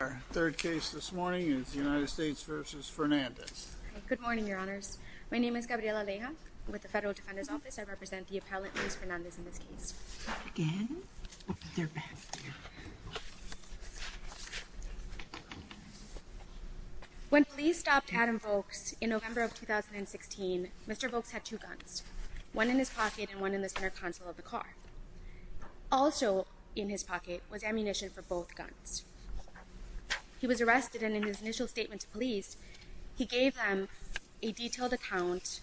Our third case this morning is United States v. Fernandez. Good morning, your honors. My name is Gabriela Aleja. With the Federal Defender's Office, I represent the appellant, Luis Fernandez, in this case. When police stopped Adam Vokes in November of 2016, Mr. Vokes had two guns. One in his pocket and one in the center console of the car. Also in his pocket was ammunition for both guns. He was arrested and in his initial statement to police, he gave them a detailed account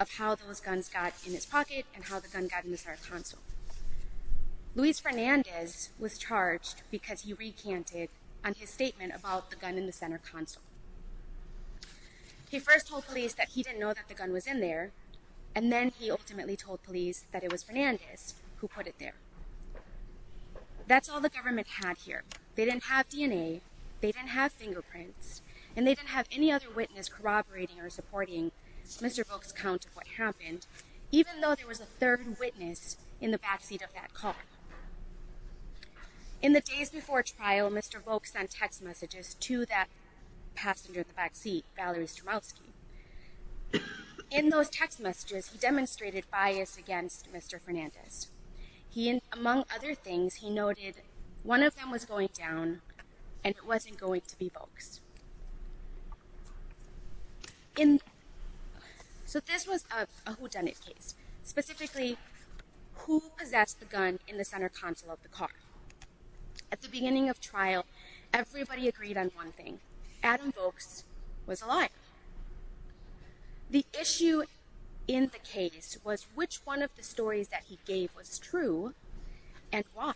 of how those guns got in his pocket and how the gun got in the center console. Luis Fernandez was charged because he recanted on his statement about the gun in the center console. He first told police that he didn't know that the gun was in there, and then he ultimately told police that it was Fernandez who put it there. That's all the government had here. They didn't have DNA, they didn't have fingerprints, and they didn't have any other witness corroborating or supporting Mr. Vokes' account of what happened, even though there was a third witness in the backseat of that car. In the days before trial, Mr. Vokes sent text messages to that passenger in the backseat, Valerie Stromalski. In those text messages, he demonstrated bias against Mr. Fernandez. Among other things, he noted one of them was going down and it wasn't going to be Vokes. So this was a whodunit case. Specifically, who possessed the gun in the center console of the car? At the beginning of trial, everybody agreed on one thing. Adam Vokes was a liar. The issue in the case was which one of the stories that he gave was true and why.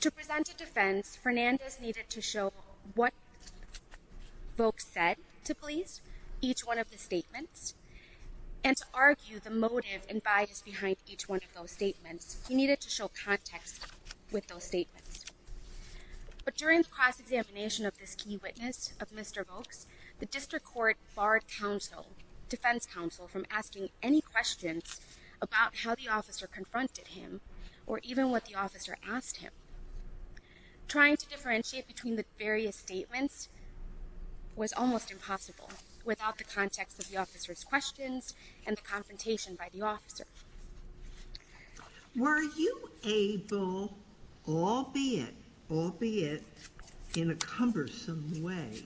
To present a defense, Fernandez needed to show what Vokes said to police, each one of the statements, and to argue the motive and bias behind each one of those statements. He needed to show context with those statements. But during the cross-examination of this key witness, Mr. Vokes, the district court barred defense counsel from asking any questions about how the officer confronted him or even what the officer asked him. Trying to differentiate between the various statements was almost impossible without the context of the officer's questions and the confrontation by the officer. Were you able, albeit in a cumbersome way,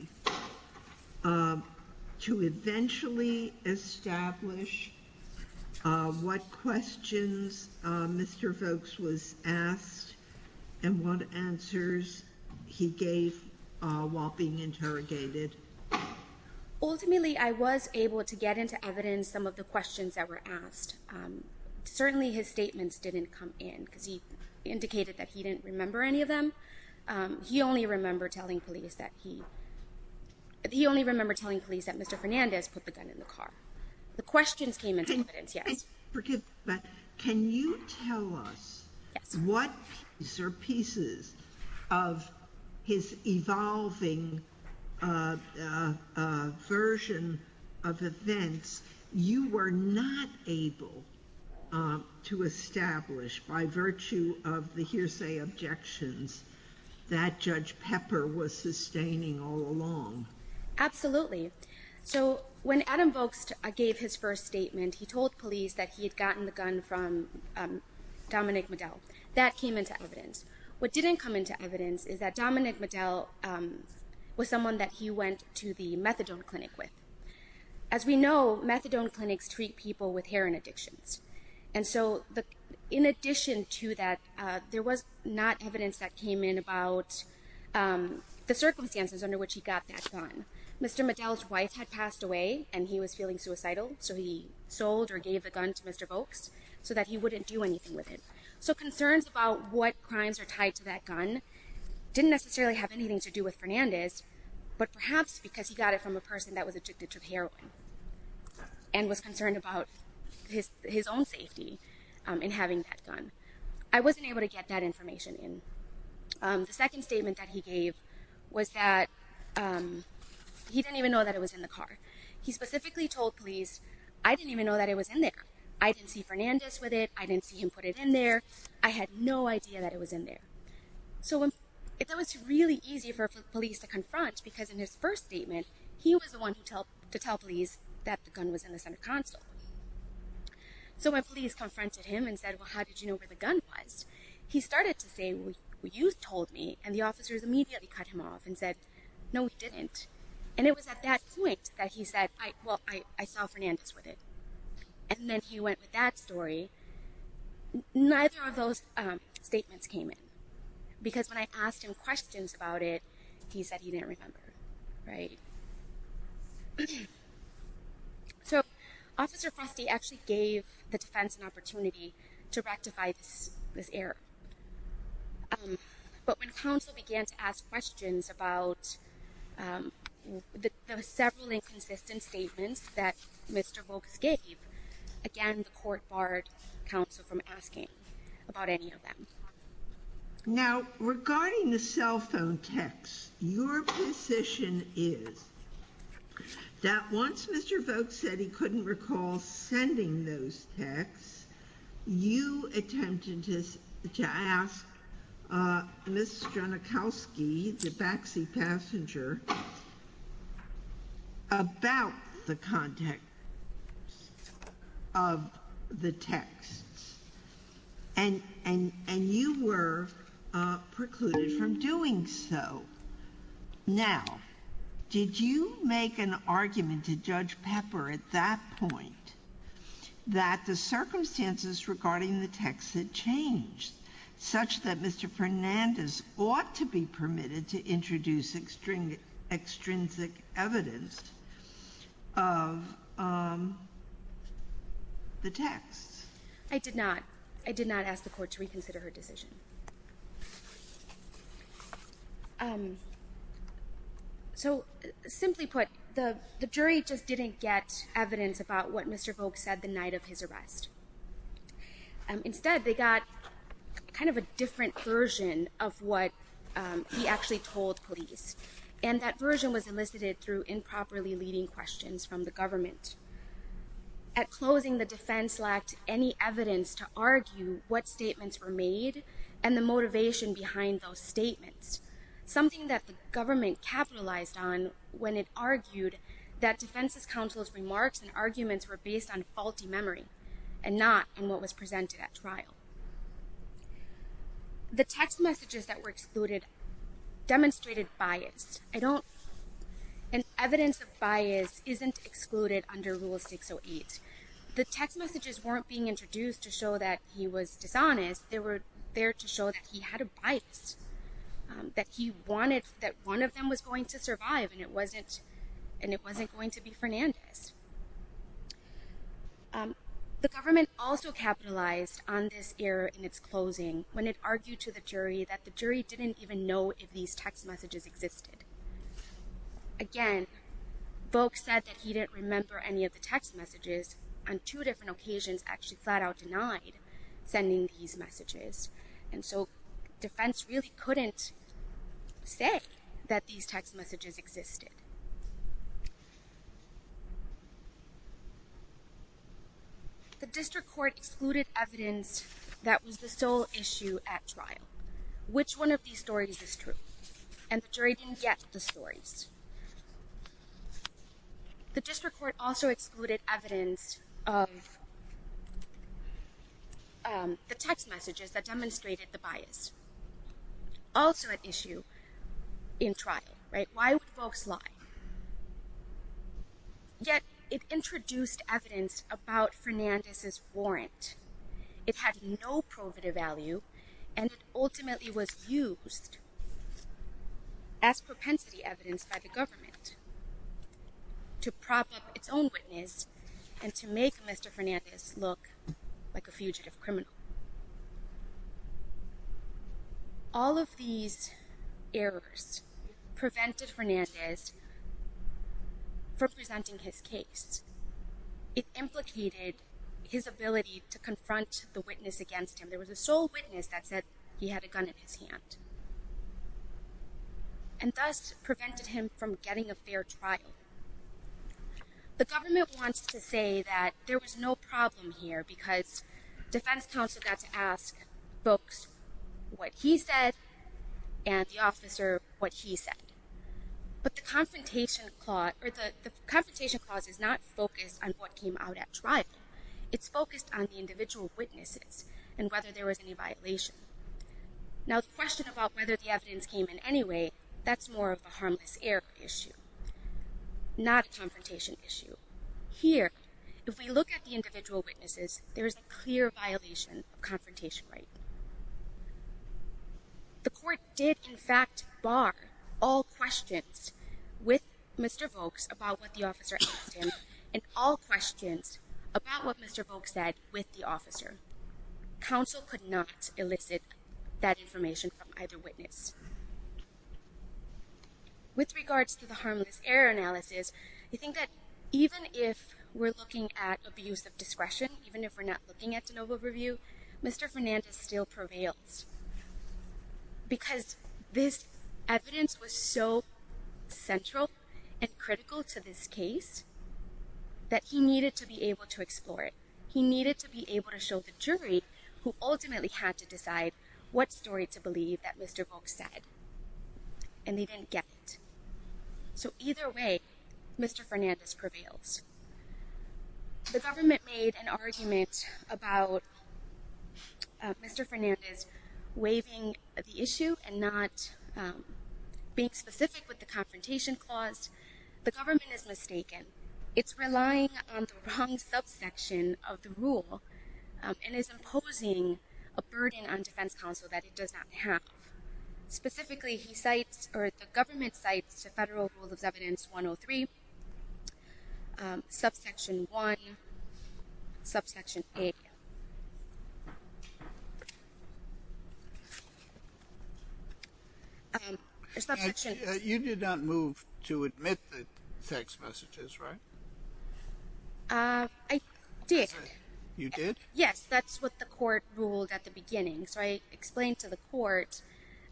to eventually establish what questions Mr. Vokes was asked and what answers he gave while being interrogated? Ultimately, I was able to get into evidence some of the questions that were asked. Certainly, his statements didn't come in because he indicated that he didn't remember any of them. He only remembered telling police that Mr. Fernandez put the gun in the car. The questions came into evidence, yes. Can you tell us what pieces of his evolving version of events you were not able to establish by virtue of the hearsay objections that Judge Pepper was sustaining all along? Absolutely. When Adam Vokes gave his first statement, he told police that he had gotten the gun from Dominic Medell. That came into evidence. What didn't come into evidence is that Dominic Medell was someone that he went to the methadone clinic with. As we know, methadone clinics treat people with heroin addictions. In addition to that, there was not evidence that came in about the circumstances under which he got that gun. Mr. Medell's wife had passed away and he was feeling suicidal, so he sold or gave the gun to Mr. Vokes so that he wouldn't do anything with it. Concerns about what crimes are tied to that gun didn't necessarily have anything to do with Fernandez, but perhaps because he got it from a person that was addicted to heroin and was concerned about his own safety in having that gun. I wasn't able to get that information in. The second statement that he gave was that he didn't even know that it was in the car. He specifically told police, I didn't even know that it was in there. I didn't see Fernandez with it. I didn't see him put it in there. I had no idea that it was in there. That was really easy for police to confront because in his first statement, he was the one to tell police that the gun was in the center console. When police confronted him and said, well, how did you know where the gun was? He started to say, well, you told me, and the officers immediately cut him off and said, no, we didn't. It was at that point that he said, well, I saw Fernandez with it. Then he went with that story. Neither of those statements came in because when I asked him questions about it, he said he didn't remember. Officer Frosty actually gave the defense an opportunity to rectify this error. But when counsel began to ask questions about the several inconsistent statements that Mr. Volk gave, again, the court barred counsel from asking about any of them. Now, regarding the cell phone text, your position is that once Mr. Volk asked Ms. Genachowski, the backseat passenger, about the context of the text, and you were precluded from doing so. Now, did you make an argument to Judge Pepper at that point that the circumstances regarding the text had changed? Such that Mr. Fernandez ought to be permitted to introduce extrinsic evidence of the text. I did not. I did not ask the court to reconsider her decision. So, simply put, the jury just didn't get evidence about what Mr. Volk said the night of his arrest. Instead, they got kind of a different version of what he actually told police. And that version was elicited through improperly leading questions from the government. At closing, the defense lacked any evidence to argue what statements were made and the motivation behind those statements. Something that the government capitalized on when it argued that defense's counsel's remarks and arguments were based on faulty memory. And not in what was presented at trial. The text messages that were excluded demonstrated bias. I don't, and evidence of bias isn't excluded under Rule 608. The text messages weren't being introduced to show that he was dishonest. They were there to show that he had a bias. That he wanted, that one of them was going to survive and it wasn't going to be Fernandez. The government also capitalized on this error in its closing when it argued to the jury that the jury didn't even know if these text messages existed. Again, Volk said that he didn't remember any of the text messages. On two different occasions actually flat out denied sending these messages. And so, defense really couldn't say that these text messages existed. The district court excluded evidence that was the sole issue at trial. Which one of these stories is true? And the jury didn't get the stories. The district court also excluded evidence of the text messages that demonstrated the bias. Also an issue in trial, right? Why would Volk's lie? Yet, it introduced evidence about Fernandez's warrant. It had no prohibitive value and it ultimately was used as propensity evidence by the government. To prop up its own witness and to make Mr. Fernandez look like a fugitive criminal. All of these errors prevented Fernandez from presenting his case. It implicated his ability to confront the witness against him. There was a sole witness that said he had a gun in his hand. And thus prevented him from getting a fair trial. The government wants to say that there was no problem here. Because defense counsel got to ask Volk's what he said and the officer what he said. But the confrontation clause is not focused on what came out at trial. It's focused on the individual witnesses and whether there was any violation. Now the question about whether the evidence came in anyway, that's more of a harmless error issue. Not a confrontation issue. Here, if we look at the individual witnesses, there is a clear violation of confrontation right. The court did in fact bar all questions with Mr. Volk's about what the officer asked him. And all questions about what Mr. Volk said with the officer. Counsel could not elicit that information from either witness. With regards to the harmless error analysis, I think that even if we're looking at abuse of discretion. Even if we're not looking at de novo review. Mr. Fernandez still prevails. Because this evidence was so central and critical to this case. That he needed to be able to explore it. He needed to be able to show the jury who ultimately had to decide what story to believe that Mr. Volk said. And they didn't get it. So either way, Mr. Fernandez prevails. The government made an argument about Mr. Fernandez waiving the issue and not being specific with the confrontation clause. The government is mistaken. It's relying on the wrong subsection of the rule. And it's imposing a burden on defense counsel that it does not have. Specifically, the government cites the Federal Rule of Evidence 103, subsection 1, subsection A. You did not move to admit the text messages, right? I did. You did? Yes, that's what the court ruled at the beginning. So I explained to the court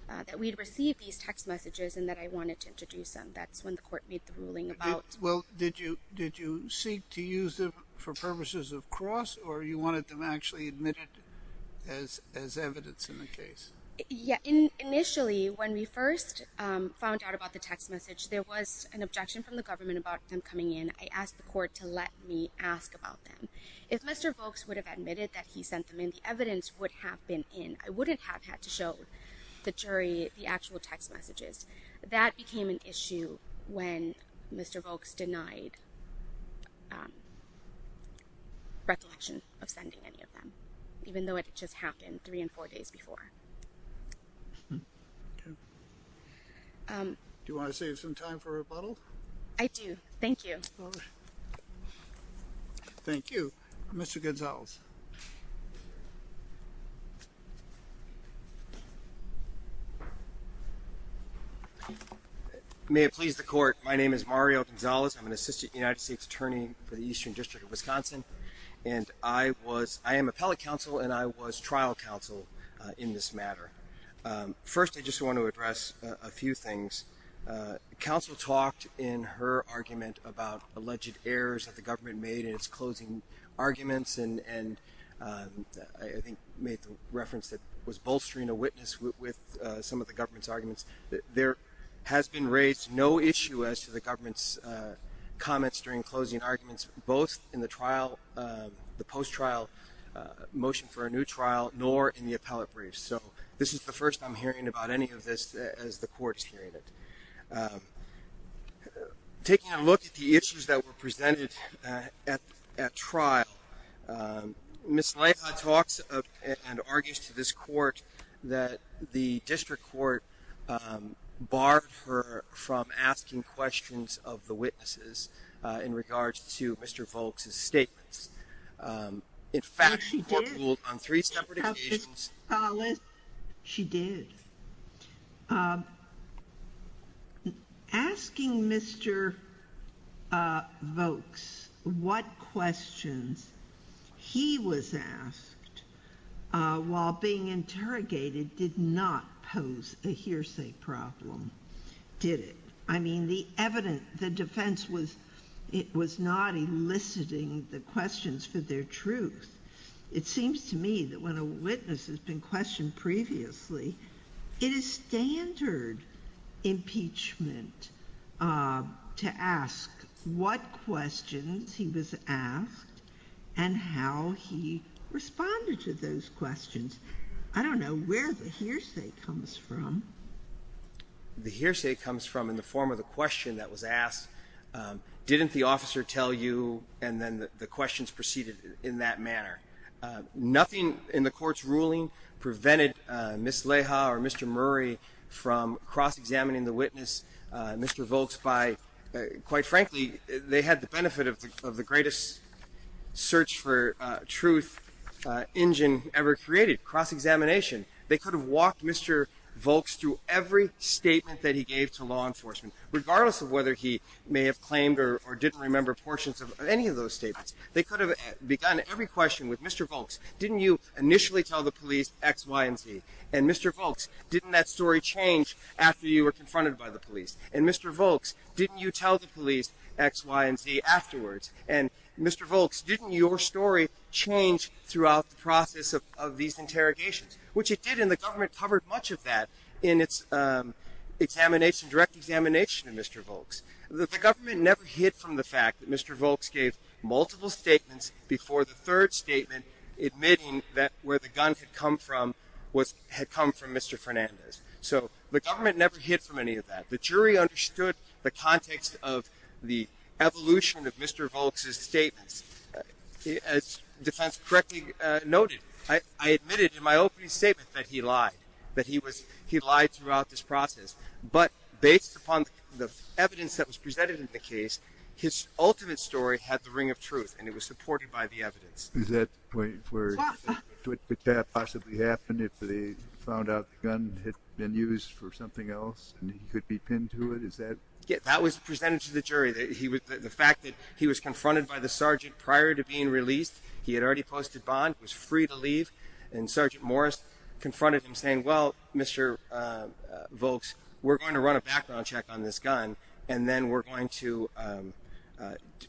that we'd received these text messages and that I wanted to introduce them. That's when the court made the ruling about. Well, did you seek to use them for purposes of cross or you wanted them actually admitted as evidence in the case? Yeah. Initially, when we first found out about the text message, there was an objection from the government about them coming in. I asked the court to let me ask about them. If Mr. Volk would have admitted that he sent them in, the evidence would have been in. I wouldn't have had to show the jury the actual text messages. That became an issue when Mr. Volk denied recollection of sending any of them, even though it just happened three and four days before. Do you want to save some time for rebuttal? I do. Thank you. Thank you. Mr. Gonzalez. May it please the court, my name is Mario Gonzalez. I'm an assistant United States attorney for the Eastern District of Wisconsin. And I am appellate counsel and I was trial counsel in this matter. First, I just want to address a few things. Counsel talked in her argument about alleged errors that the government made in its closing arguments. And I think made the reference that was bolstering a witness with some of the government's arguments. There has been raised no issue as to the government's comments during closing arguments, both in the trial, the post-trial motion for a new trial, nor in the appellate briefs. So this is the first I'm hearing about any of this as the court is hearing it. Taking a look at the issues that were presented at trial, Ms. Leija talks and argues to this court that the district court barred her from asking questions of the witnesses in regards to Mr. Volk's statements. In fact, the court ruled on three separate occasions. She did. Asking Mr. Volk's what questions he was asked while being interrogated did not pose a hearsay problem, did it? I mean, the evidence, the defense was not eliciting the questions for their truth. It seems to me that when a witness has been questioned previously, it is standard impeachment to ask what questions he was asked and how he responded to those questions. I don't know where the hearsay comes from. The hearsay comes from in the form of the question that was asked. Didn't the officer tell you? And then the questions proceeded in that manner. Nothing in the court's ruling prevented Ms. Leija or Mr. Murray from cross-examining the witness, Mr. Volk's, by, quite frankly, they had the benefit of the greatest search for truth engine ever created, cross-examination. They could have walked Mr. Volk's through every statement that he gave to law enforcement, regardless of whether he may have claimed or didn't remember portions of any of those statements. They could have begun every question with, Mr. Volk's, didn't you initially tell the police X, Y, and Z? And, Mr. Volk's, didn't that story change after you were confronted by the police? And, Mr. Volk's, didn't you tell the police X, Y, and Z afterwards? And, Mr. Volk's, didn't your story change throughout the process of these interrogations? Which it did, and the government covered much of that in its examination, direct examination of Mr. Volk's. The government never hid from the fact that Mr. Volk's gave multiple statements before the third statement, admitting that where the gun had come from was, had come from Mr. Fernandez. So, the government never hid from any of that. The jury understood the context of the evolution of Mr. Volk's statements. As defense correctly noted, I admitted in my opening statement that he lied, that he lied throughout this process. But, based upon the evidence that was presented in the case, his ultimate story had the ring of truth, Is that the point where, would that possibly happen if they found out the gun had been used for something else, and he could be pinned to it, is that? Yeah, that was presented to the jury. The fact that he was confronted by the sergeant prior to being released, he had already posted bond, was free to leave, and Sergeant Morris confronted him saying, well, Mr. Volk's, we're going to run a background check on this gun, and then we're going to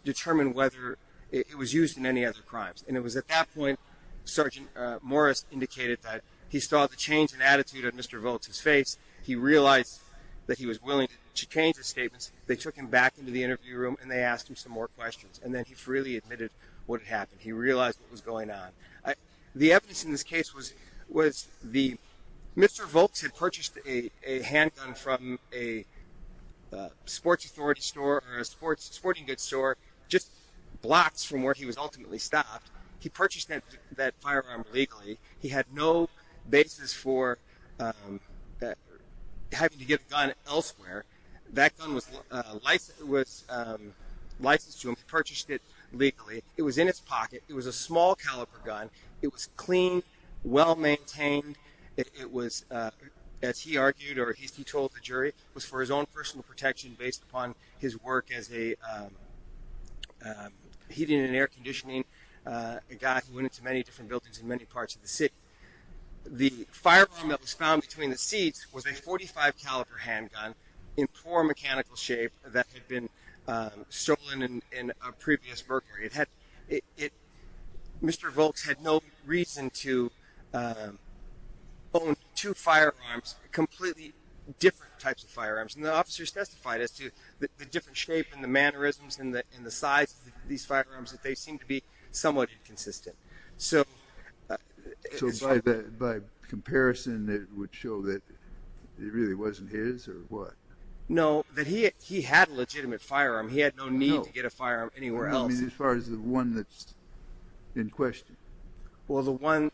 determine whether it was used in any other crimes. And it was at that point, Sergeant Morris indicated that he saw the change in attitude on Mr. Volk's face. He realized that he was willing to change his statements. They took him back into the interview room, and they asked him some more questions, and then he freely admitted what had happened. He realized what was going on. The evidence in this case was Mr. Volk's had purchased a handgun from a sports authority store or a sporting goods store just blocks from where he was ultimately stopped. He purchased that firearm legally. He had no basis for having to get a gun elsewhere. That gun was licensed to him. He purchased it legally. It was in his pocket. It was a small-caliber gun. It was clean, well-maintained. It was, as he argued or he told the jury, was for his own personal protection based upon his work as a heating and air conditioning guy who went into many different buildings in many parts of the city. The firearm that was found between the seats was a .45-caliber handgun in poor mechanical shape that had been stolen in a previous burglary. Mr. Volk's had no reason to own two firearms, completely different types of firearms. The officers testified as to the different shape and the mannerisms and the size of these firearms, that they seemed to be somewhat inconsistent. So by comparison, it would show that it really wasn't his or what? No, that he had a legitimate firearm. He had no need to get a firearm anywhere else. I mean, as far as the one that's in question? Well, the one…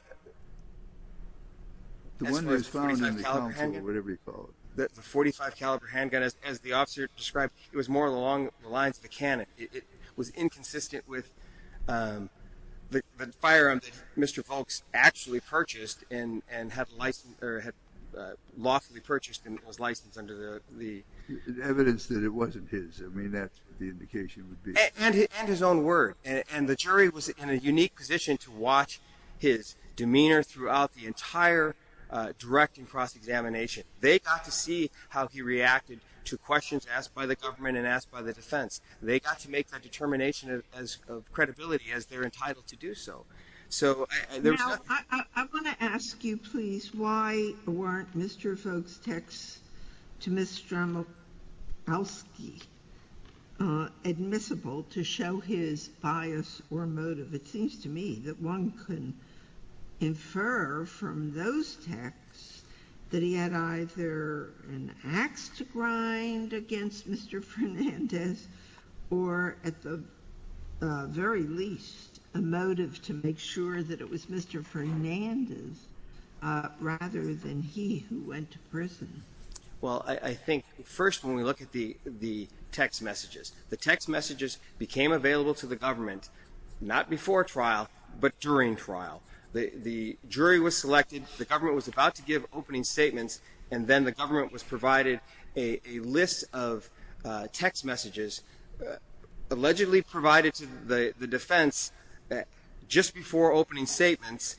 The one that was found in the council or whatever you call it. The .45-caliber handgun, as the officer described, it was more along the lines of a cannon. It was inconsistent with the firearm that Mr. Volk's actually purchased and had lawfully purchased and was licensed under the… Evidence that it wasn't his. I mean, that's what the indication would be. And his own word. And the jury was in a unique position to watch his demeanor throughout the entire direct and cross-examination. They got to see how he reacted to questions asked by the government and asked by the defense. They got to make that determination of credibility as they're entitled to do so. Now, I want to ask you, please, why weren't Mr. Volk's texts to Ms. Strzomkowski admissible to show his bias or motive? It seems to me that one can infer from those texts that he had either an ax to grind against Mr. Fernandez or, at the very least, a motive to make sure that it was Mr. Fernandez rather than he who went to prison. Well, I think, first, when we look at the text messages, the text messages became available to the government not before trial but during trial. The jury was selected. The government was about to give opening statements, and then the government was provided a list of text messages allegedly provided to the defense just before opening statements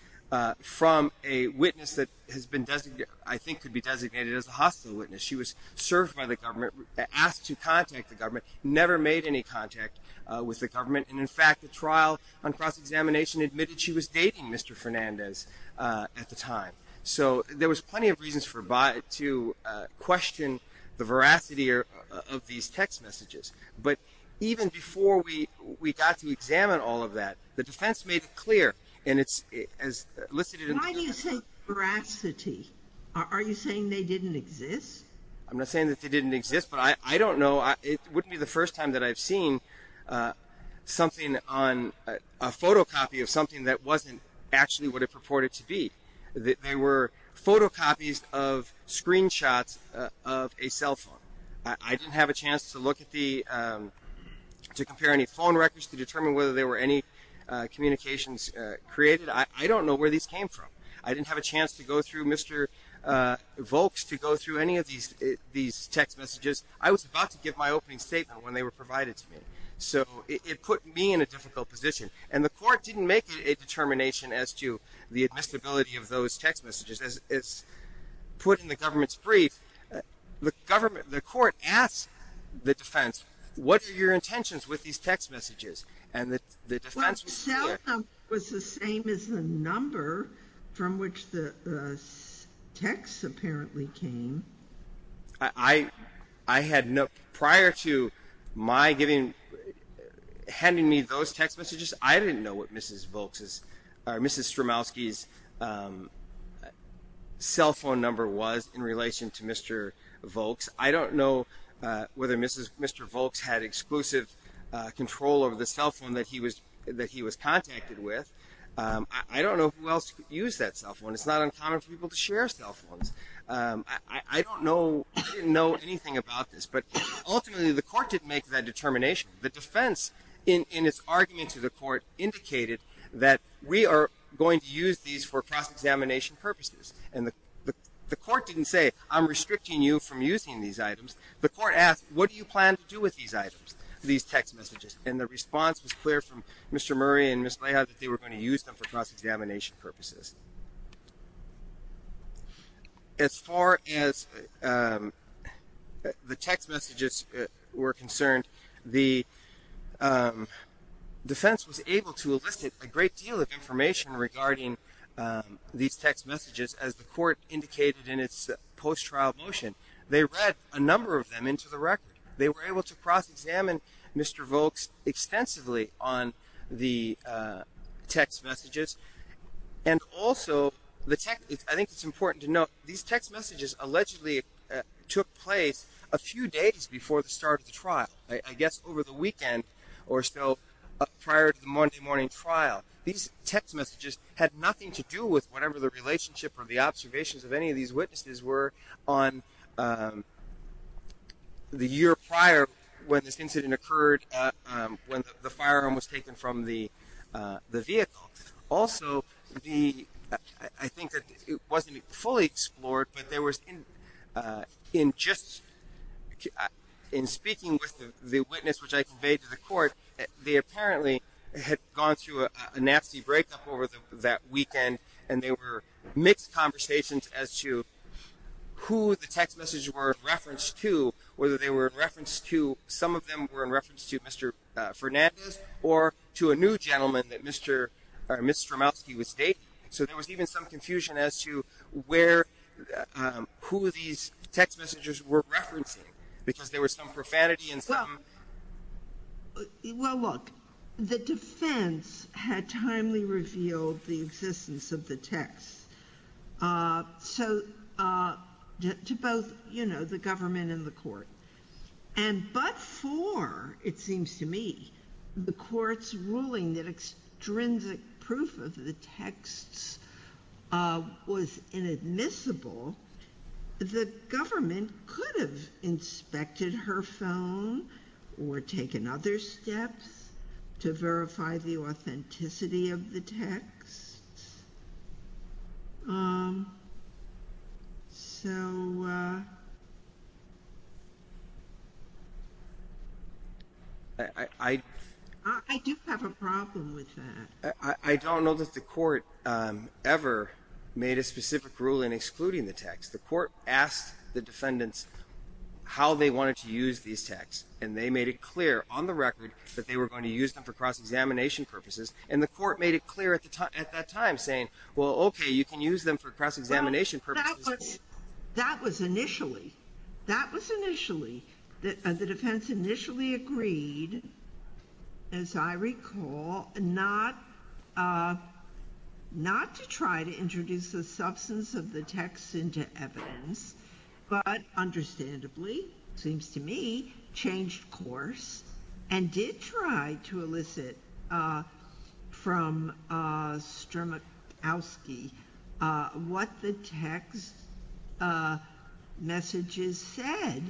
from a witness that has been designated… I think could be designated as a hostile witness. She was served by the government, asked to contact the government, never made any contact with the government. And, in fact, the trial on cross-examination admitted she was dating Mr. Fernandez at the time. So there was plenty of reasons to question the veracity of these text messages. But even before we got to examine all of that, the defense made it clear, and it's as listed in the… Why do you say veracity? Are you saying they didn't exist? I'm not saying that they didn't exist, but I don't know. It wouldn't be the first time that I've seen something on a photocopy of something that wasn't actually what it purported to be. They were photocopies of screenshots of a cell phone. I didn't have a chance to look at the… to compare any phone records to determine whether there were any communications created. I don't know where these came from. I didn't have a chance to go through Mr. Volk's, to go through any of these text messages. I was about to give my opening statement when they were provided to me. So it put me in a difficult position. And the court didn't make a determination as to the admissibility of those text messages. As put in the government's brief, the government… the court asked the defense, what are your intentions with these text messages? And the defense… Well, the cell phone was the same as the number from which the texts apparently came. I had no… prior to my giving… handing me those text messages, I didn't know what Mrs. Volk's… Mrs. Stromowski's cell phone number was in relation to Mr. Volk's. I don't know whether Mr. Volk's had exclusive control over the cell phone that he was… that he was contacted with. I don't know who else used that cell phone. It's not uncommon for people to share cell phones. I don't know… I didn't know anything about this. But ultimately, the court didn't make that determination. The defense, in its argument to the court, indicated that we are going to use these for cross-examination purposes. And the court didn't say, I'm restricting you from using these items. The court asked, what do you plan to do with these items, these text messages? And the response was clear from Mr. Murray and Ms. Leija that they were going to use them for cross-examination purposes. As far as the text messages were concerned, the defense was able to elicit a great deal of information regarding these text messages. As the court indicated in its post-trial motion, they read a number of them into the record. They were able to cross-examine Mr. Volks extensively on the text messages. And also, the text… I think it's important to note, these text messages allegedly took place a few days before the start of the trial. I guess over the weekend or so prior to the Monday morning trial. These text messages had nothing to do with whatever the relationship or the observations of any of these witnesses were on the year prior when this incident occurred, when the firearm was taken from the vehicle. Also, the… I think that it wasn't fully explored, but there was… in just… in speaking with the witness, which I conveyed to the court, they apparently had gone through a nasty breakup over that weekend, and there were mixed conversations as to who the text messages were referenced to, whether they were in reference to… some of them were in reference to Mr. Fernandez or to a new gentleman that Mr. or Ms. Stromowski was dating. So there was even some confusion as to where… who these text messages were referencing, because there was some profanity and some… Well, look, the defense had timely revealed the existence of the text to both, you know, the government and the court. And but for, it seems to me, the court's ruling that extrinsic proof of the texts was inadmissible, the government could have inspected her phone or taken other steps to verify the authenticity of the texts. So… I do have a problem with that. I don't know that the court ever made a specific ruling excluding the text. The court asked the defendants how they wanted to use these texts, and they made it clear on the record that they were going to use them for cross-examination purposes. And the court made it clear at that time, saying, well, okay, you can use them for cross-examination purposes. That was initially, that was initially, the defense initially agreed, as I recall, not to try to introduce the substance of the text into evidence, but understandably, seems to me, changed course, and did try to elicit from Stromowski what the text messages said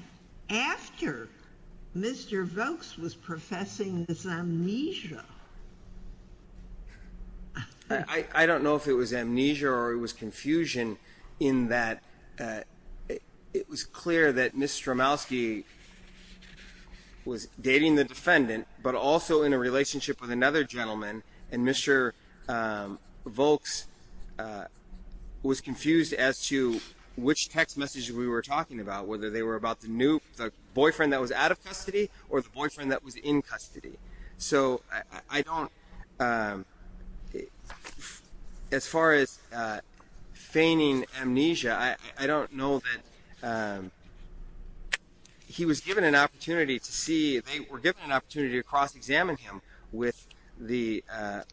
after Mr. Vokes was professing this amnesia. I don't know if it was amnesia or it was confusion in that it was clear that Ms. Stromowski was dating the defendant, but also in a relationship with another gentleman. And Mr. Vokes was confused as to which text messages we were talking about, whether they were about the new, the boyfriend that was out of custody or the boyfriend that was in custody. So I don't, as far as feigning amnesia, I don't know that he was given an opportunity to see, they were given an opportunity to cross-examine him with the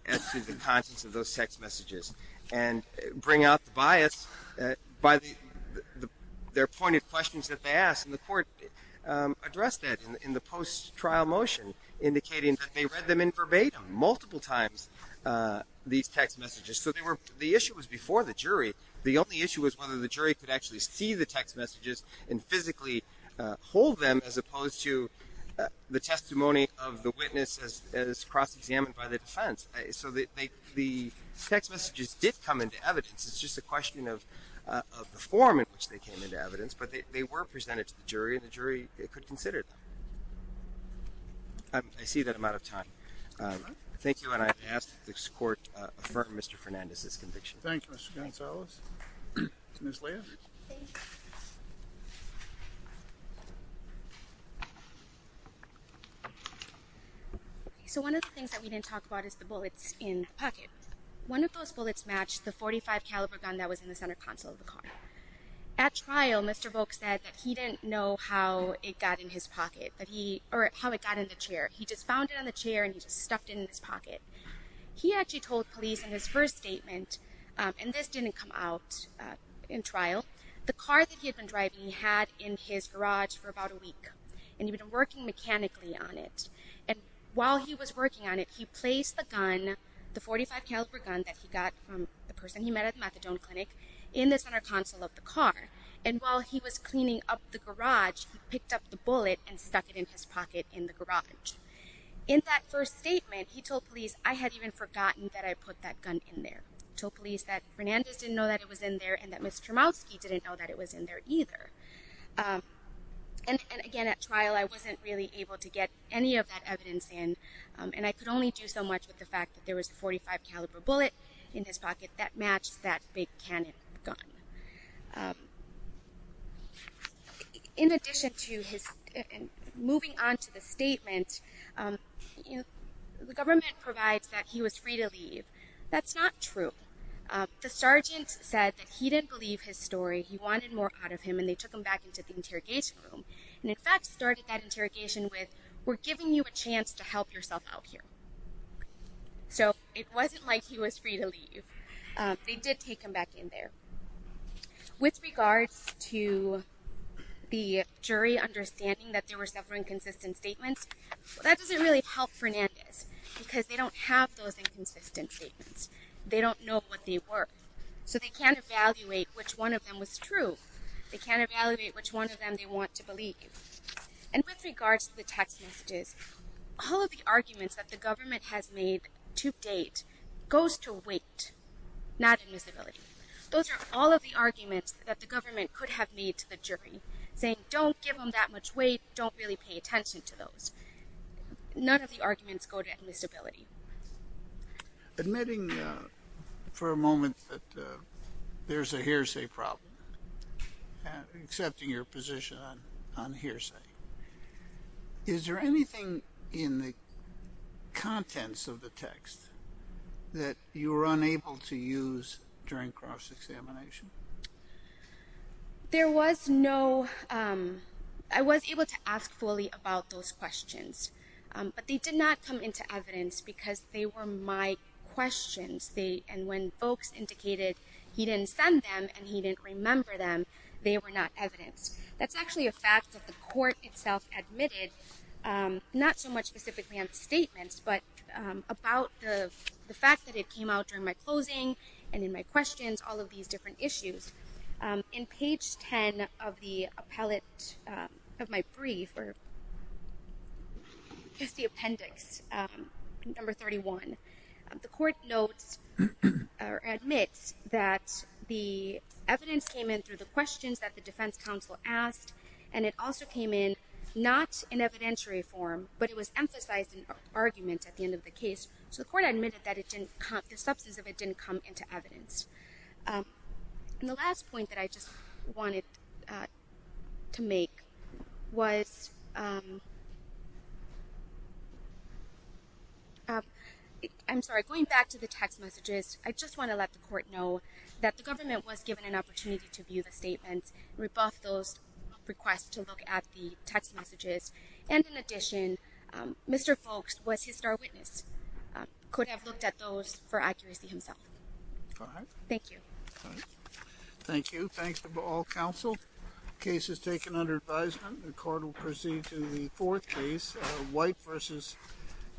essence and contents of those text messages, and bring out the bias by their pointed questions that they asked, and the court addressed that in the post-trial motion, indicating that they read them in verbatim, multiple times, these text messages. So they were, the issue was before the jury. The only issue was whether the jury could actually see the text messages and physically hold them as opposed to the testimony of the witness as cross-examined by the defense. So the text messages did come into evidence. It's just a question of the form in which they came into evidence, but they were presented to the jury, and the jury could consider them. I see that I'm out of time. Thank you, and I ask that this court affirm Mr. Fernandez's conviction. Thank you, Mr. Gonzalez. Ms. Lea? Thank you. So one of the things that we didn't talk about is the bullets in the pocket. One of those bullets matched the .45 caliber gun that was in the center console of the car. At trial, Mr. Volk said that he didn't know how it got in his pocket, or how it got in the chair. He just found it on the chair, and he just stuffed it in his pocket. He actually told police in his first statement, and this didn't come out in trial, the car that he had been driving he had in his garage for about a week, and he'd been working mechanically on it. And while he was working on it, he placed the gun, the .45 caliber gun that he got from the person he met at the methadone clinic, in the center console of the car. And while he was cleaning up the garage, he picked up the bullet and stuck it in his pocket in the garage. In that first statement, he told police, I had even forgotten that I put that gun in there. He told police that Fernandez didn't know that it was in there, and that Ms. Chermowski didn't know that it was in there either. And again, at trial, I wasn't really able to get any of that evidence in, and I could only do so much with the fact that there was a .45 caliber bullet in his pocket that matched that big cannon gun. In addition to his, moving on to the statement, the government provides that he was free to leave. That's not true. The sergeant said that he didn't believe his story, he wanted more out of him, and they took him back into the interrogation room. And in fact, started that interrogation with, we're giving you a chance to help yourself out here. So it wasn't like he was free to leave. They did take him back in there. With regards to the jury understanding that there were several inconsistent statements, that doesn't really help Fernandez. Because they don't have those inconsistent statements. They don't know what they were. So they can't evaluate which one of them was true. They can't evaluate which one of them they want to believe. And with regards to the text messages, all of the arguments that the government has made to date goes to weight, not admissibility. Those are all of the arguments that the government could have made to the jury, saying don't give them that much weight, don't really pay attention to those. None of the arguments go to admissibility. Admitting for a moment that there's a hearsay problem, accepting your position on hearsay, is there anything in the contents of the text that you were unable to use during cross-examination? There was no, I was able to ask fully about those questions. But they did not come into evidence because they were my questions. And when folks indicated he didn't send them and he didn't remember them, they were not evidenced. That's actually a fact that the court itself admitted, not so much specifically on statements, but about the fact that it came out during my closing and in my questions, all of these different issues. In page 10 of the appellate, of my brief, or just the appendix, number 31, the court notes or admits that the evidence came in through the questions that the defense counsel asked. And it also came in, not in evidentiary form, but it was emphasized in argument at the end of the case. So the court admitted that the substance of it didn't come into evidence. And the last point that I just wanted to make was, I'm sorry, going back to the text messages, I just want to let the court know that the government was given an opportunity to view the statements, rebuff those requests to look at the text messages, and in addition, Mr. Folks was his star witness, could have looked at those for accuracy himself. Thank you. Thank you. Thanks to all counsel. Case is taken under advisement. The court will proceed to the fourth case, white versus.